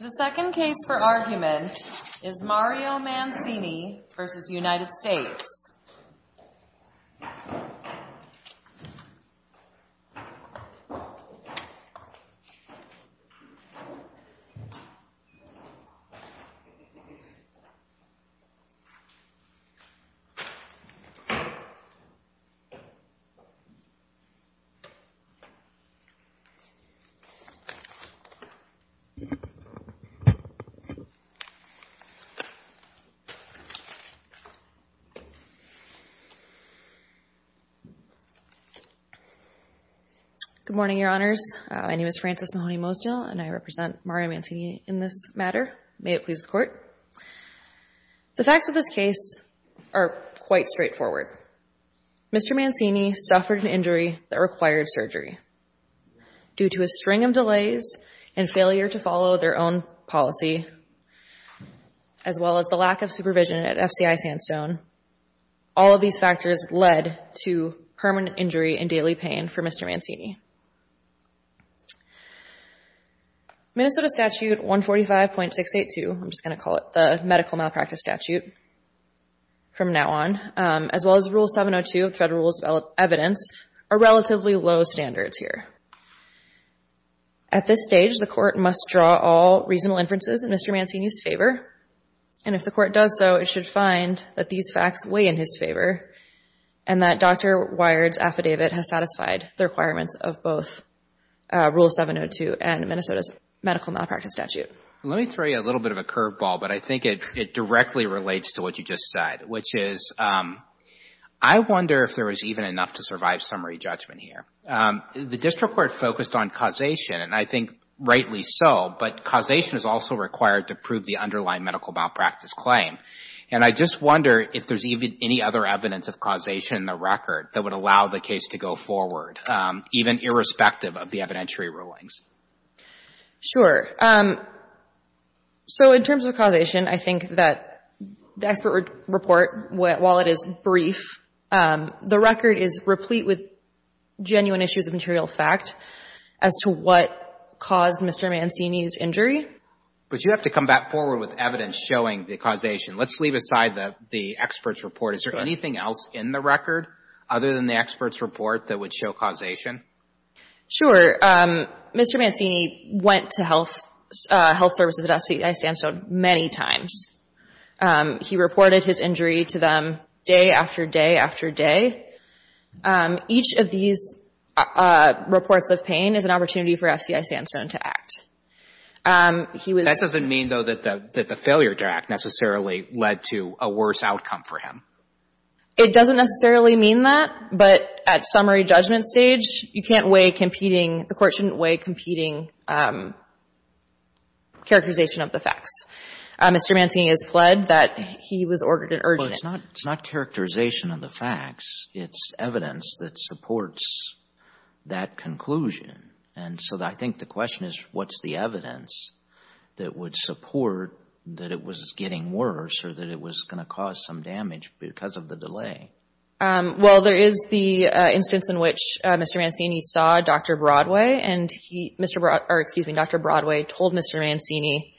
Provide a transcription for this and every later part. The second case for argument is Mario Mancini v. United States. Good morning, Your Honors. My name is Frances Mahoney-Mosdial, and I represent Mario Mancini in this matter. May it please the Court. The facts of this case are quite straightforward. Mr. Mancini suffered an injury that required surgery. Due to a string of delays and failure to follow their own policy, as well as the lack of supervision at FCI Sandstone, all of these factors led to permanent injury and daily pain for Mr. Mancini. Minnesota Statute 145.682, I'm just going to call it the medical malpractice statute from now on, as well as Rule 702 of Federal Rules of Evidence, are relatively low standards here. At this stage, the Court must draw all reasonable inferences in Mr. Mancini's favor, and if the Court does so, it should find that these facts weigh in his favor and that Dr. Wired's affidavit has satisfied the requirements of both Rule 702 and Minnesota's medical malpractice statute. Let me throw you a little bit of a curveball, but I think it directly relates to what you just said, which is I wonder if there was even enough to survive summary judgment here. The district court focused on causation, and I think rightly so, but causation is also required to prove the underlying medical malpractice claim. And I just wonder if there's even any other evidence of causation in the record that would allow the case to go forward, even irrespective of the evidentiary rulings. Sure. So in terms of causation, I think that the expert report, while it is brief, the record is replete with genuine issues of material fact as to what caused Mr. Mancini's injury. But you have to come back forward with evidence showing the causation. Let's leave aside the expert's report. Is there anything else in the record other than the expert's report that would show causation? Sure. Mr. Mancini went to health services at FCI Sandstone many times. He reported his injury to them day after day after day. Each of these reports of pain is an opportunity for FCI Sandstone to act. That doesn't mean, though, that the failure to act necessarily led to a worse outcome for him. It doesn't necessarily mean that, but at summary judgment stage, you can't weigh competing the court shouldn't weigh competing characterization of the facts. Mr. Mancini has pled that he was ordered an urgent. Well, it's not characterization of the facts. It's evidence that supports that conclusion. And so I think the question is what's the evidence that would support that it was getting worse or that it was going to cause some damage because of the delay? Well, there is the instance in which Mr. Mancini saw Dr. Broadway, and Dr. Broadway told Mr. Mancini,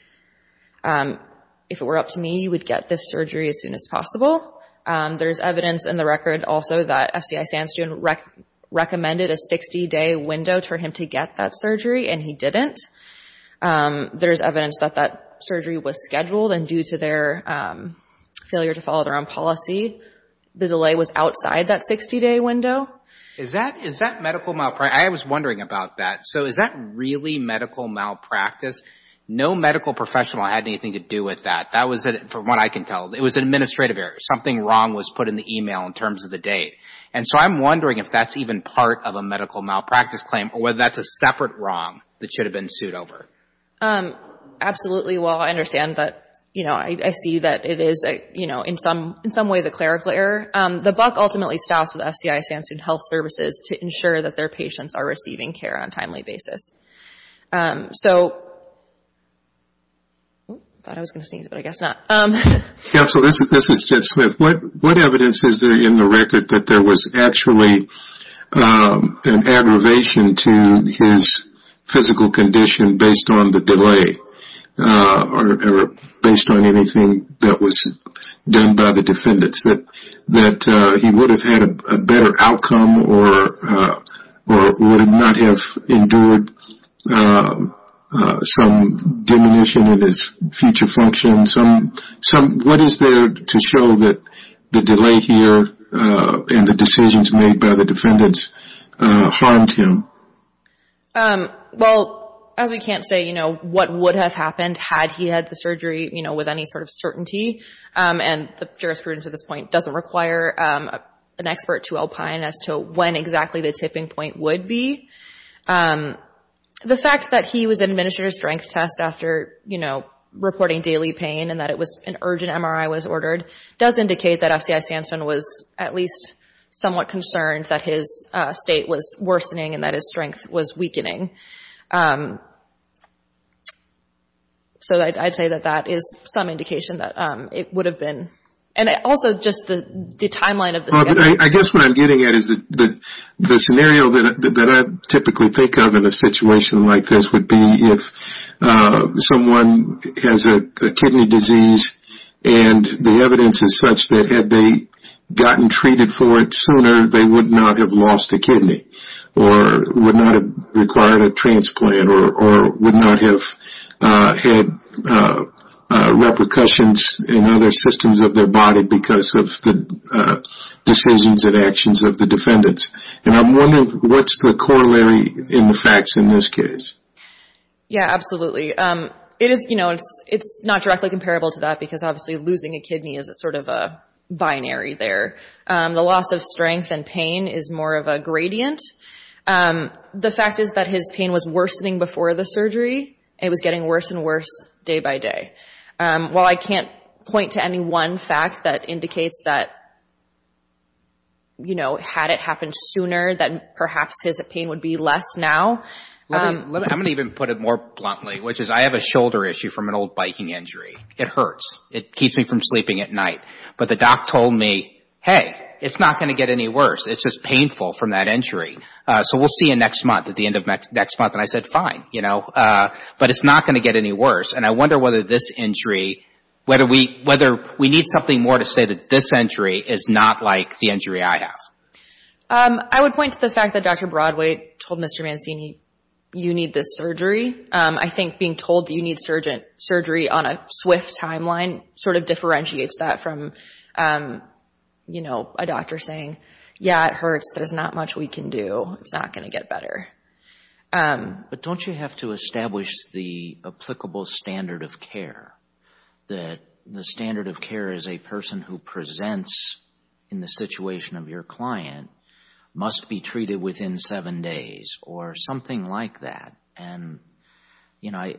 if it were up to me, you would get this surgery as soon as possible. There's evidence in the record also that FCI Sandstone recommended a 60-day window for him to get that surgery, and he didn't. There's evidence that that surgery was scheduled, and due to their failure to follow their own policy, the delay was outside that 60-day window. Is that medical malpractice? I was wondering about that. So is that really medical malpractice? No medical professional had anything to do with that. That was, from what I can tell, it was an administrative error. Something wrong was put in the e-mail in terms of the date. And so I'm wondering if that's even part of a medical malpractice claim or whether that's a separate wrong that should have been sued over. Absolutely. Well, I understand that. I see that it is, in some ways, a clerical error. The buck ultimately stops with FCI Sandstone Health Services to ensure that their patients are receiving care on a timely basis. I thought I was going to sneeze, but I guess not. Counsel, this is Ted Smith. What evidence is there in the record that there was actually an aggravation to his physical condition based on the delay or based on anything that was done by the defendants, that he would have had a better outcome or would not have endured some diminution in his future function? What is there to show that the delay here and the decisions made by the defendants harmed him? Well, as we can't say what would have happened had he had the surgery with any sort of certainty, and the jurisprudence at this point doesn't require an expert to alpine as to when exactly the tipping point would be. The fact that he was administered a strength test after reporting daily pain and that an urgent MRI was ordered does indicate that FCI Sandstone was at least somewhat concerned that his state was worsening and that his strength was weakening. So I'd say that that is some indication that it would have been. And also, just the timeline of the scenario. I guess what I'm getting at is that the scenario that I typically think of in a situation like this would be if someone has a kidney disease and the evidence is such that had they gotten treated for it sooner, they would not have lost a kidney or would not have required a transplant or would not have had repercussions in other systems of their body because of the decisions and actions of the defendants. And I'm wondering, what's the corollary in the facts in this case? Yeah, absolutely. It is, you know, it's not directly comparable to that because obviously losing a kidney is sort of a binary there. The loss of strength and pain is more of a gradient. The fact is that his pain was worsening before the surgery. It was getting worse and worse day by day. While I can't point to any one fact that indicates that, you know, had it happened sooner that perhaps his pain would be less now. I'm going to even put it more bluntly, which is I have a shoulder issue from an old biking injury. It hurts. It keeps me from sleeping at night. But the doc told me, hey, it's not going to get any worse. It's just painful from that injury. So we'll see you next month at the end of next month. And I said, fine, you know, but it's not going to get any worse. And I wonder whether this injury, whether we need something more to say that this injury is not like the injury I have. I would point to the fact that Dr. Broadway told Mr. Mancini, you need this surgery. I think being told that you need surgery on a swift timeline sort of differentiates that from, you know, a doctor saying, yeah, it hurts. There's not much we can do. It's not going to get better. But don't you have to establish the applicable standard of care, that the standard of care as a person who presents in the situation of your client must be treated within seven days or something like that? And, you know,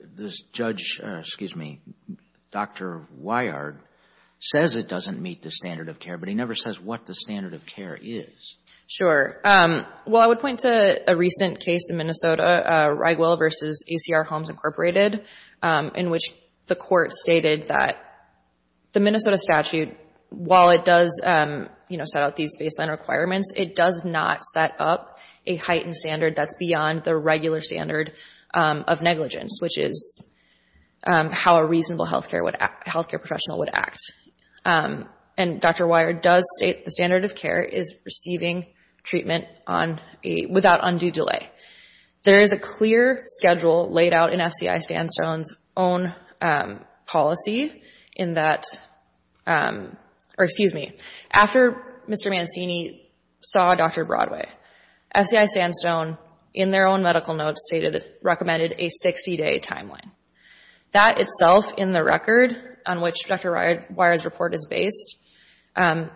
this judge, excuse me, Dr. Weyard says it doesn't meet the standard of care, but he never says what the standard of care is. Well, I would point to a recent case in Minnesota, Ragwell v. ACR Homes Incorporated, in which the court stated that the Minnesota statute, while it does, you know, set out these baseline requirements, it does not set up a heightened standard that's beyond the regular standard of negligence, which is how a reasonable health care professional would act. And Dr. Weyard does state the standard of care is receiving treatment without undue delay. There is a clear schedule laid out in FCI Sandstone's own policy in that, or excuse me, after Mr. Mancini saw Dr. Broadway, FCI Sandstone, in their own medical notes, recommended a 60-day timeline. That itself, in the record on which Dr. Weyard's report is based, that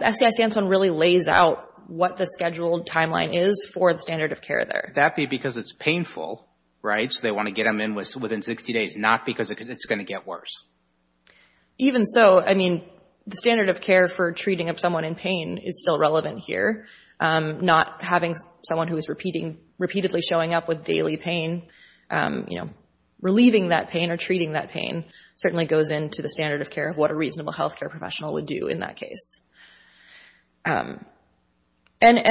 FCI Sandstone really lays out what the scheduled timeline is for the standard of care there. Would that be because it's painful, right, so they want to get them in within 60 days, not because it's going to get worse? Even so, I mean, the standard of care for treating someone in pain is still relevant here. Not having someone who is repeatedly showing up with daily pain, you know, relieving that pain or treating that pain certainly goes into the standard of care of what a reasonable health care professional would do in that case. And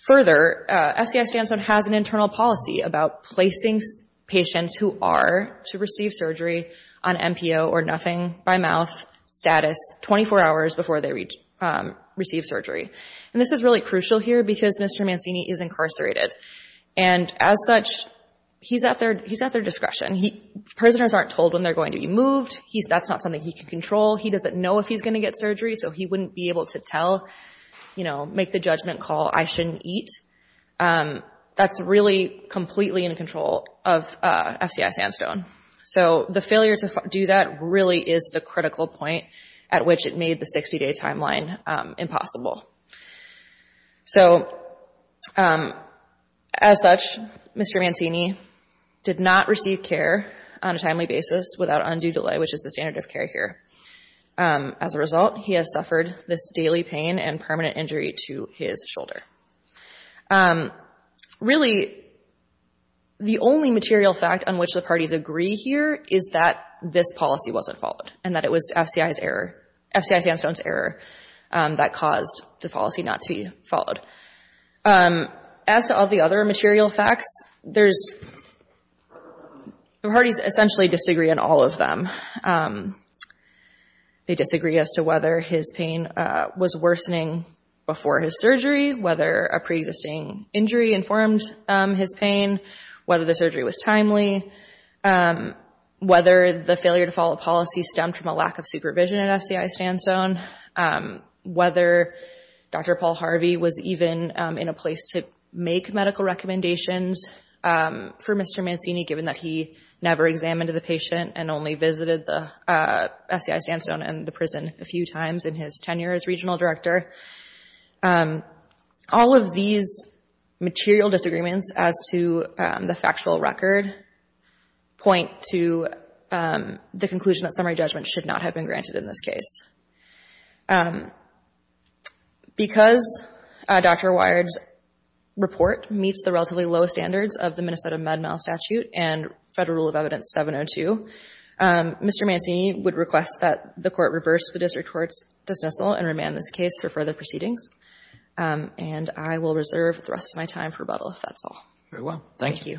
further, FCI Sandstone has an internal policy about placing patients who are to receive surgery on MPO or nothing by mouth status 24 hours before they receive surgery. And this is really crucial here because Mr. Mancini is incarcerated. And as such, he's at their discretion. Prisoners aren't told when they're going to be moved. That's not something he can control. He doesn't know if he's going to get surgery, so he wouldn't be able to tell, you know, make the judgment call, I shouldn't eat. That's really completely in control of FCI Sandstone. So the failure to do that really is the critical point at which it made the 60-day timeline impossible. So as such, Mr. Mancini did not receive care on a timely basis without undue delay, which is the standard of care here. As a result, he has suffered this daily pain and permanent injury to his shoulder. Really, the only material fact on which the parties agree here is that this policy wasn't followed and that it was FCI's error, FCI Sandstone's error, that caused the policy not to be followed. As to all the other material facts, the parties essentially disagree on all of them. They disagree as to whether his pain was worsening before his surgery, whether a pre-existing injury informed his pain, whether the surgery was timely, whether the failure to follow a policy stemmed from a lack of supervision at FCI Sandstone, whether Dr. Paul Harvey was even in a place to make medical recommendations for Mr. Mancini, given that he never examined the patient and only visited the FCI Sandstone and the prison a few times in his tenure as regional director. All of these material disagreements as to the factual record point to the conclusion that summary judgment should not have been granted in this case. Because Dr. Wired's report meets the relatively low standards of the Minnesota Med-Mal statute and Federal Rule of Evidence 702, Mr. Mancini would request that the court reverse the district court's dismissal and remand this case for further proceedings. And I will reserve the rest of my time for rebuttal, if that's all. Very well. Thank you.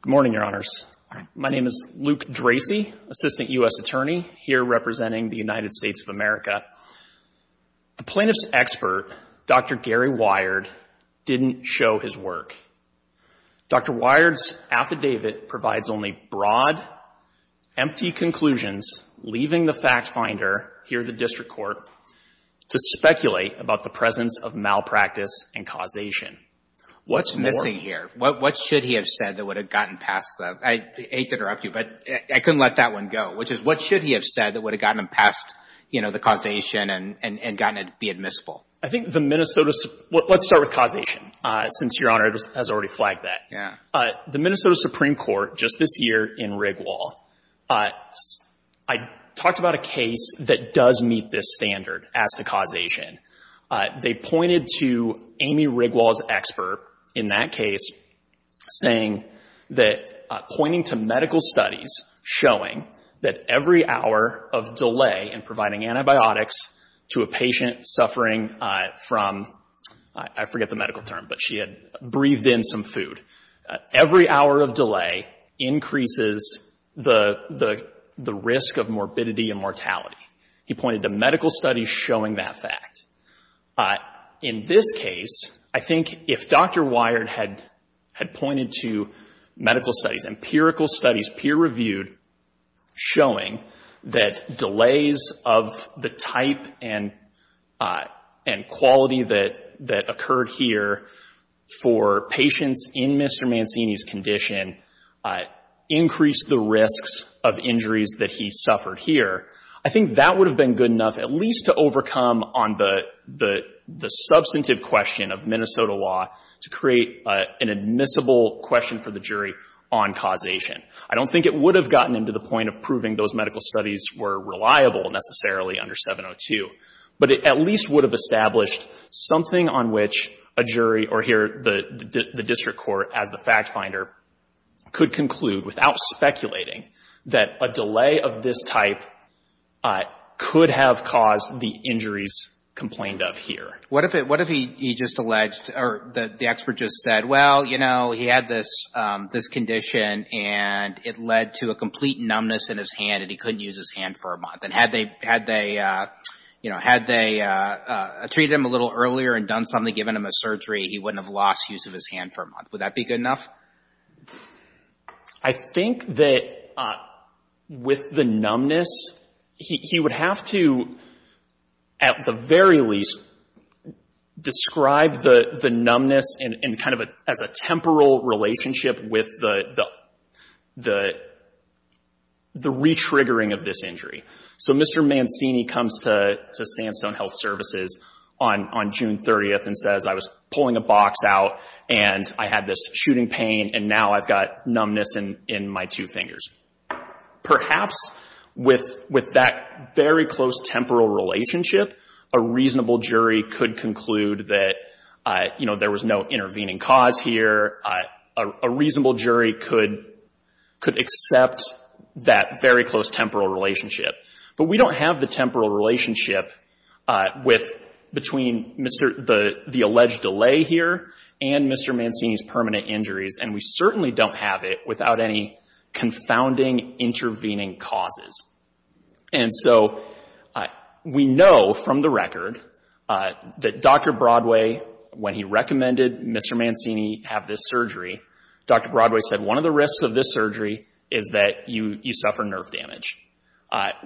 Good morning, Your Honors. Good morning. My name is Luke Dracy, Assistant U.S. Attorney, here representing the United States of America. The plaintiff's expert, Dr. Gary Wired, didn't show his work. Dr. Wired's affidavit provides only broad, empty conclusions, leaving the fact finder here at the district court to speculate about the presence of malpractice and causation. What's missing here? What should he have said that would have gotten past the — I hate to interrupt you, but I couldn't let that one go, which is, what should he have said that would have gotten him past, you know, the causation and gotten it to be admissible? I think the Minnesota — let's start with causation, since Your Honor has already flagged that. Yeah. The Minnesota Supreme Court, just this year in Rigwall, I talked about a case that does meet this standard as to causation. They pointed to Amy Rigwall's expert in that case saying that — pointing to medical studies showing that every hour of delay in providing antibiotics to a patient suffering from — I forget the medical term, but she had breathed in some food. Every hour of delay increases the risk of morbidity and mortality. He pointed to medical studies showing that fact. In this case, I think if Dr. Wired had pointed to medical studies, empirical studies, peer-reviewed, showing that delays of the type and quality that occurred here for patients in Mr. Mancini's condition increased the risks of injuries that he suffered here, I think that would have been good enough at least to overcome on the substantive question of Minnesota law to create an admissible question for the jury on causation. I don't think it would have gotten him to the point of proving those medical studies were reliable necessarily under 702, but it at least would have established something on which a jury or here the district court as the fact finder could conclude without speculating that a delay of this type could have caused the injuries complained of here. What if he just alleged or the expert just said, well, you know, he had this condition and it led to a complete numbness in his hand and he couldn't use his hand for a month? And had they, you know, had they treated him a little earlier and done something, given him a surgery, he wouldn't have lost use of his hand for a month. Would that be good enough? I think that with the numbness, he would have to at the very least describe the numbness and kind of as a temporal relationship with the re-triggering of this injury. So Mr. Mancini comes to Sandstone Health Services on June 30th and says, I was pulling a box out and I had this shooting pain and now I've got numbness in my two fingers. Perhaps with that very close temporal relationship, a reasonable jury could conclude that, you know, there was no intervening cause here. A reasonable jury could accept that very close temporal relationship. But we don't have the temporal relationship between the alleged delay here and Mr. Mancini's permanent injuries and we certainly don't have it without any confounding intervening causes. And so we know from the record that Dr. Broadway, when he recommended Mr. Mancini have this surgery, Dr. Broadway said one of the risks of this surgery is that you suffer nerve damage.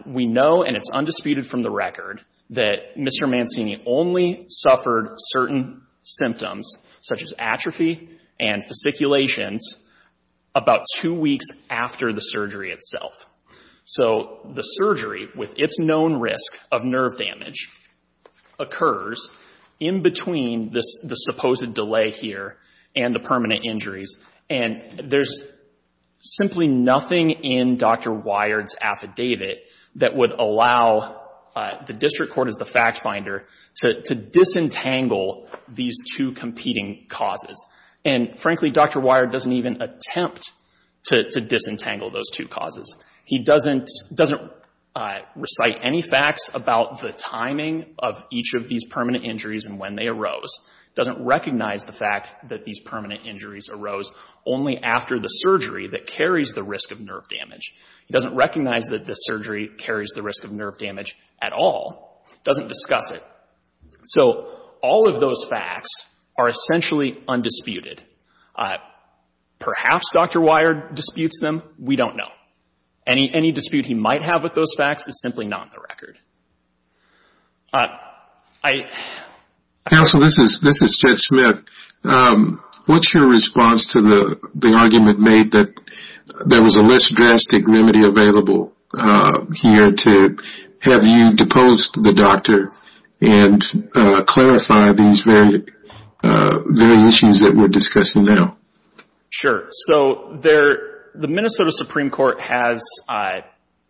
We know, and it's undisputed from the record, that Mr. Mancini only suffered certain symptoms such as atrophy and fasciculations about two weeks after the surgery itself. So the surgery, with its known risk of nerve damage, occurs in between the supposed delay here and the permanent injuries. And there's simply nothing in Dr. Wired's affidavit that would allow the district court as the fact finder to disentangle these two competing causes. And frankly, Dr. Wired doesn't even attempt to disentangle those two causes. He doesn't recite any facts about the timing of each of these permanent injuries and when they arose, doesn't recognize the fact that these permanent injuries arose only after the surgery that carries the risk of nerve damage. He doesn't recognize that this surgery carries the risk of nerve damage at all, doesn't discuss it. So all of those facts are essentially undisputed. Perhaps Dr. Wired disputes them. We don't know. Any dispute he might have with those facts is simply not in the record. Counsel, this is Chet Smith. What's your response to the argument made that there was a less drastic remedy available here to have you depose the doctor and clarify these very issues that we're discussing now? Sure. So the Minnesota Supreme Court has,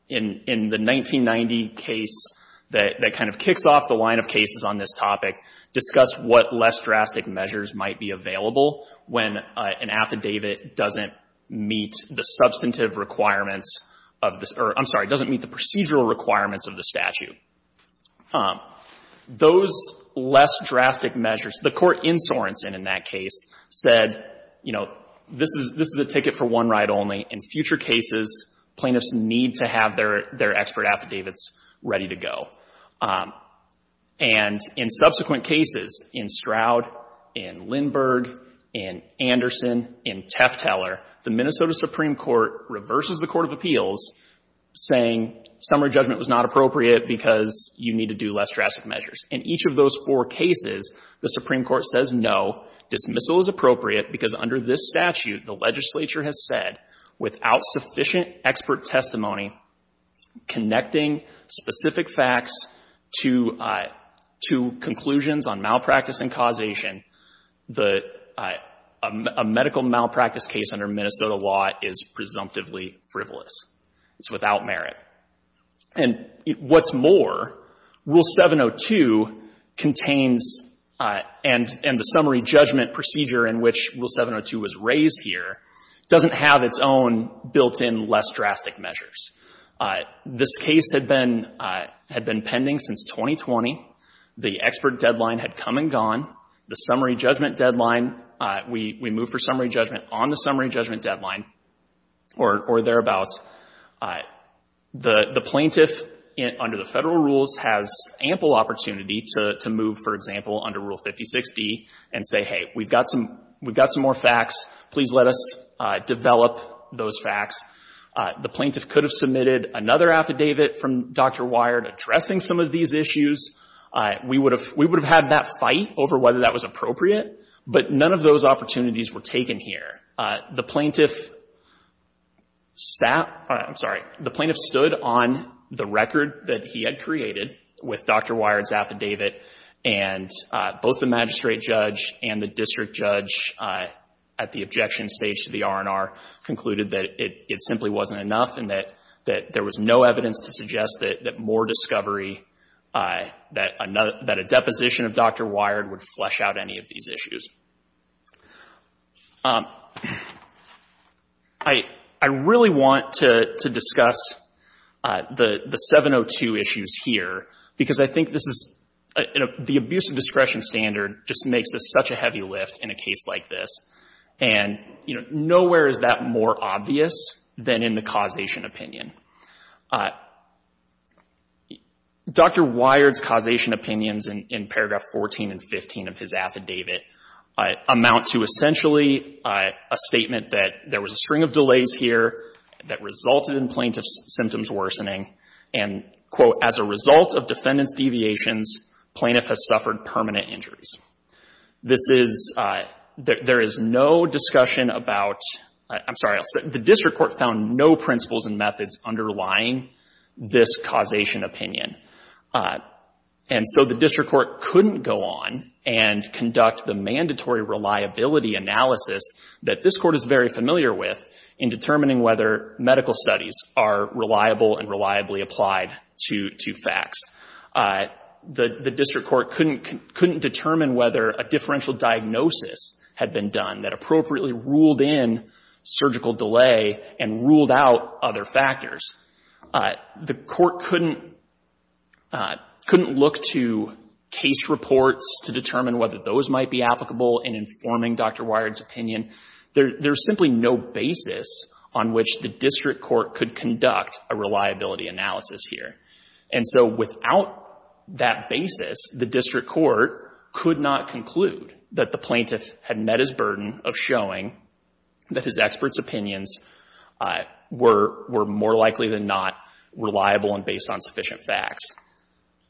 in the 1990 case, that kind of kicks off the line of cases on this topic, discussed what less drastic measures might be available when an affidavit doesn't meet the substantive requirements, or, I'm sorry, doesn't meet the procedural requirements of the statute. Those less drastic measures, the court in Sorensen in that case said, you know, this is a ticket for one ride only. In future cases, plaintiffs need to have their expert affidavits ready to go. And in subsequent cases, in Stroud, in Lindberg, in Anderson, in Teffteller, the Minnesota Supreme Court reverses the court of appeals, saying summary judgment was not appropriate because you need to do less drastic measures. In each of those four cases, the Supreme Court says no, dismissal is appropriate, because under this statute, the legislature has said, without sufficient expert testimony connecting specific facts to conclusions on malpractice and causation, a medical malpractice case under Minnesota law is presumptively frivolous. It's without merit. And what's more, Rule 702 contains, and the summary judgment procedure in which Rule 702 was raised here doesn't have its own built-in less drastic measures. This case had been pending since 2020. The expert deadline had come and gone. The summary judgment deadline, we move for summary judgment on the summary judgment deadline or thereabouts. The plaintiff, under the federal rules, has ample opportunity to move, for example, under Rule 5060 and say, hey, we've got some more facts. Please let us develop those facts. The plaintiff could have submitted another affidavit from Dr. Wired addressing some of these issues. We would have had that fight over whether that was appropriate, but none of those opportunities were taken here. The plaintiff stood on the record that he had created with Dr. Wired's affidavit, and both the magistrate judge and the district judge at the objection stage to the R&R concluded that it simply wasn't enough and that there was no evidence to suggest that more discovery, that a deposition of Dr. Wired would flesh out any of these issues. I really want to discuss the 702 issues here because I think the abuse of discretion standard just makes this such a heavy lift in a case like this. And, you know, nowhere is that more obvious than in the causation opinion. Dr. Wired's causation opinions in paragraph 14 and 15 of his affidavit amount to essentially a statement that there was a string of delays here that resulted in plaintiff's symptoms worsening and, quote, as a result of defendant's deviations, plaintiff has suffered permanent injuries. This is — there is no discussion about — I'm sorry. The district court found no principles and methods underlying this causation opinion. And so the district court couldn't go on and conduct the mandatory reliability analysis that this court is very familiar with in determining whether medical studies are reliable and reliably applied to facts. The district court couldn't determine whether a differential diagnosis had been done that appropriately ruled in surgical delay and ruled out other factors. The court couldn't look to case reports to determine whether those might be applicable in informing Dr. Wired's opinion. There's simply no basis on which the district court could conduct a reliability analysis here. And so without that basis, the district court could not conclude that the plaintiff had met his burden of showing that his expert's opinions were more likely than not reliable and based on sufficient facts.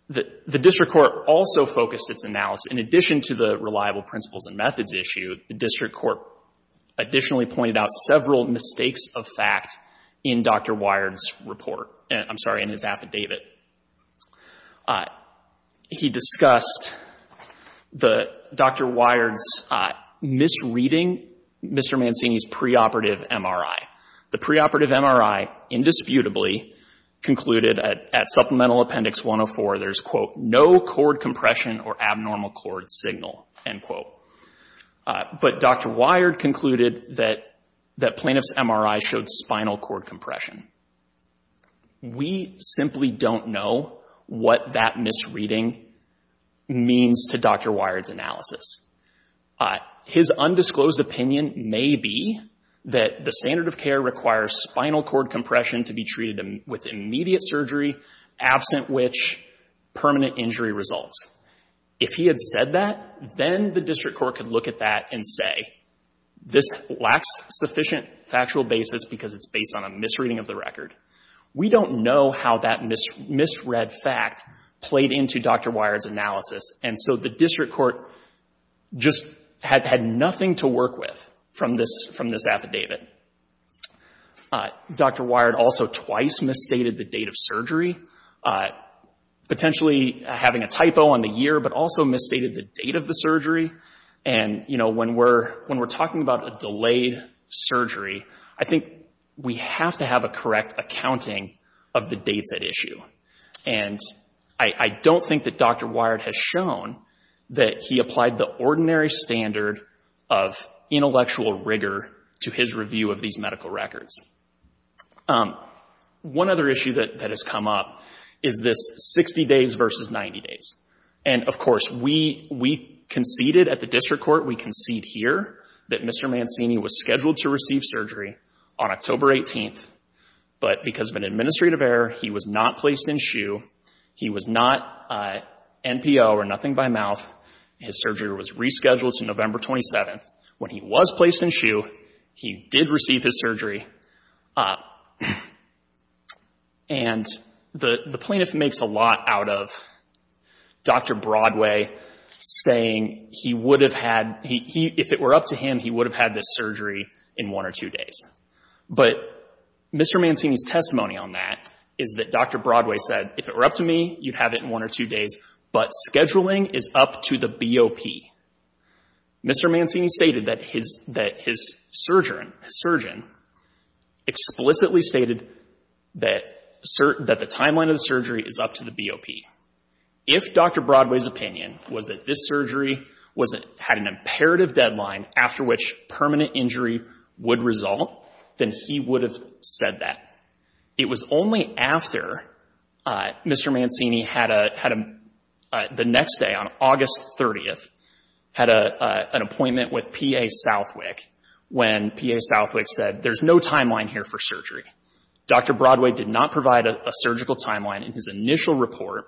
The district court also focused its analysis, in addition to the reliable principles and methods issue, the district court additionally pointed out several mistakes of fact in Dr. Wired's report. I'm sorry, in his affidavit. He discussed Dr. Wired's misreading Mr. Mancini's preoperative MRI. The preoperative MRI indisputably concluded at supplemental appendix 104, there's, quote, no cord compression or abnormal cord signal, end quote. But Dr. Wired concluded that plaintiff's MRI showed spinal cord compression. We simply don't know what that misreading means to Dr. Wired's analysis. His undisclosed opinion may be that the standard of care requires spinal cord compression to be treated with immediate surgery, absent which permanent injury results. If he had said that, then the district court could look at that and say, this lacks sufficient factual basis because it's based on a misreading of the record. We don't know how that misread fact played into Dr. Wired's analysis. And so the district court just had nothing to work with from this affidavit. Dr. Wired also twice misstated the date of surgery, potentially having a typo on the year, but also misstated the date of the surgery. And, you know, when we're talking about a delayed surgery, I think we have to have a correct accounting of the dates at issue. And I don't think that Dr. Wired has shown that he applied the ordinary standard of intellectual rigor to his review of these medical records. One other issue that has come up is this 60 days versus 90 days. And, of course, we conceded at the district court, we concede here, that Mr. Mancini was scheduled to receive surgery on October 18th, but because of an administrative error, he was not placed in SHU. He was not NPO or nothing by mouth. His surgery was rescheduled to November 27th. When he was placed in SHU, he did receive his surgery. And the plaintiff makes a lot out of Dr. Broadway saying he would have had, if it were up to him, he would have had this surgery in one or two days. But Mr. Mancini's testimony on that is that Dr. Broadway said, if it were up to me, you'd have it in one or two days, but scheduling is up to the BOP. Mr. Mancini stated that his surgeon explicitly stated that the timeline of the surgery is up to the BOP. If Dr. Broadway's opinion was that this surgery had an imperative deadline after which permanent injury would result, then he would have said that. It was only after Mr. Mancini had the next day, on August 30th, had an appointment with P.A. Southwick when P.A. Southwick said, there's no timeline here for surgery. Dr. Broadway did not provide a surgical timeline in his initial report,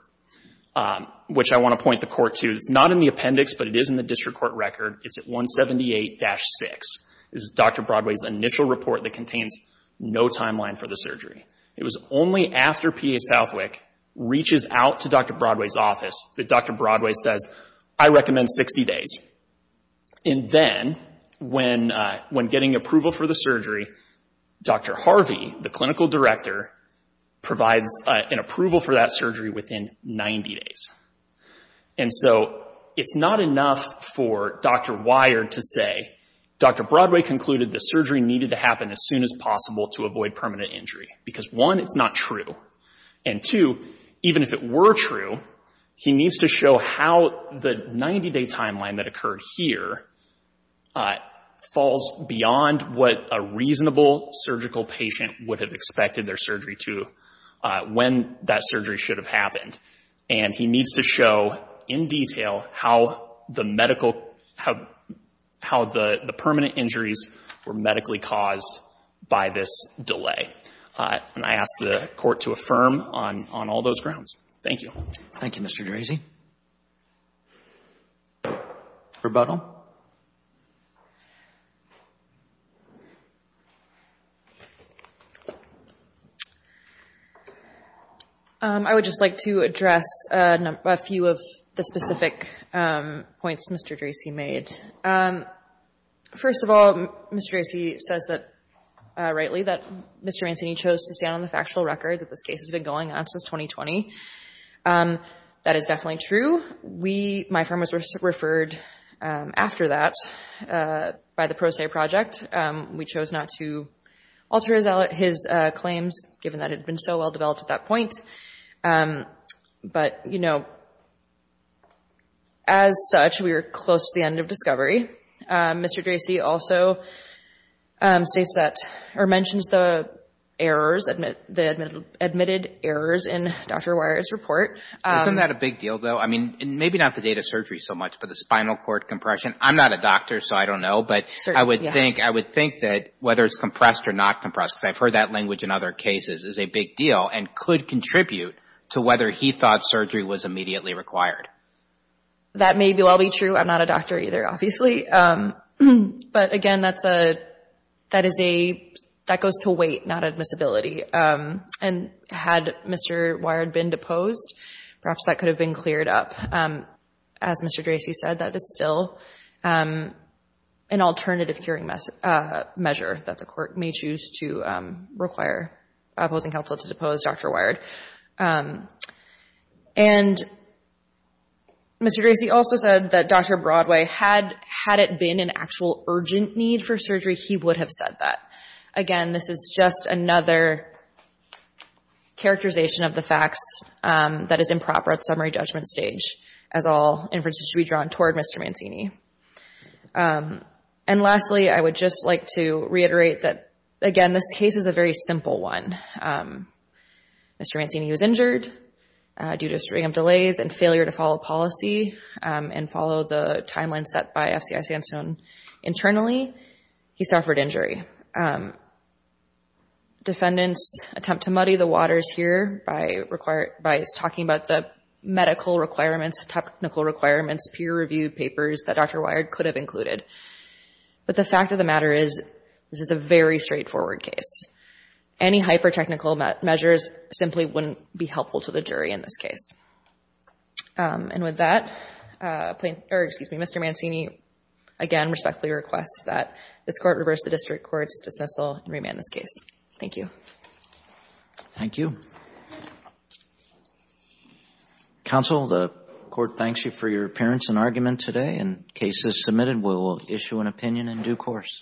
which I want to point the court to. It's not in the appendix, but it is in the district court record. It's at 178-6. This is Dr. Broadway's initial report that contains no timeline for the surgery. It was only after P.A. Southwick reaches out to Dr. Broadway's office that Dr. Broadway says, I recommend 60 days. And then when getting approval for the surgery, Dr. Harvey, the clinical director, provides an approval for that surgery within 90 days. And so it's not enough for Dr. Wire to say, Dr. Broadway concluded the surgery needed to happen as soon as possible to avoid permanent injury, because one, it's not true, and two, even if it were true, he needs to show how the 90-day timeline that occurred here falls beyond what a reasonable surgical patient would have expected their surgery to when that surgery should have happened. And he needs to show in detail how the medical, how the permanent injuries were medically caused by this delay. And I ask the court to affirm on all those grounds. Thank you. Thank you, Mr. Dracy. Rebuttal. I would just like to address a few of the specific points Mr. Dracy made. First of all, Mr. Dracy says rightly that Mr. Mancini chose to stand on the factual record that this case has been going on since 2020. That is definitely true. We, my firm, was referred after that by the Pro Se Project. We chose not to alter his claims, given that it had been so well-developed at that point. But, you know, as such, we are close to the end of discovery. Mr. Dracy also states that, or mentions the errors, the admitted errors in Dr. Weier's report. Isn't that a big deal, though? I mean, maybe not the date of surgery so much, but the spinal cord compression. I'm not a doctor, so I don't know. But I would think that whether it's compressed or not compressed, because I've heard that language in other cases, is a big deal and could contribute to whether he thought surgery was immediately required. That may well be true. I'm not a doctor either, obviously. But, again, that goes to weight, not admissibility. And had Mr. Weier been deposed, perhaps that could have been cleared up. As Mr. Dracy said, that is still an alternative hearing measure that the Court may choose to require opposing counsel to depose Dr. Weier. And Mr. Dracy also said that Dr. Broadway, had it been an actual urgent need for surgery, he would have said that. Again, this is just another characterization of the facts that is improper at summary judgment stage, as all inferences should be drawn toward Mr. Mantini. And lastly, I would just like to reiterate that, again, this case is a very simple one. Mr. Mantini was injured due to string of delays and failure to follow policy and follow the timeline set by FCI Sandstone internally. He suffered injury. Defendants attempt to muddy the waters here by talking about the medical requirements, technical requirements, peer-reviewed papers that Dr. Weier could have included. But the fact of the matter is, this is a very straightforward case. Any hyper-technical measures simply wouldn't be helpful to the jury in this case. And with that, Mr. Mantini, again, respectfully requests that this Court reverse the district court's dismissal and remand this case. Thank you. Thank you. Counsel, the Court thanks you for your appearance and argument today. And case is submitted. We will issue an opinion in due course.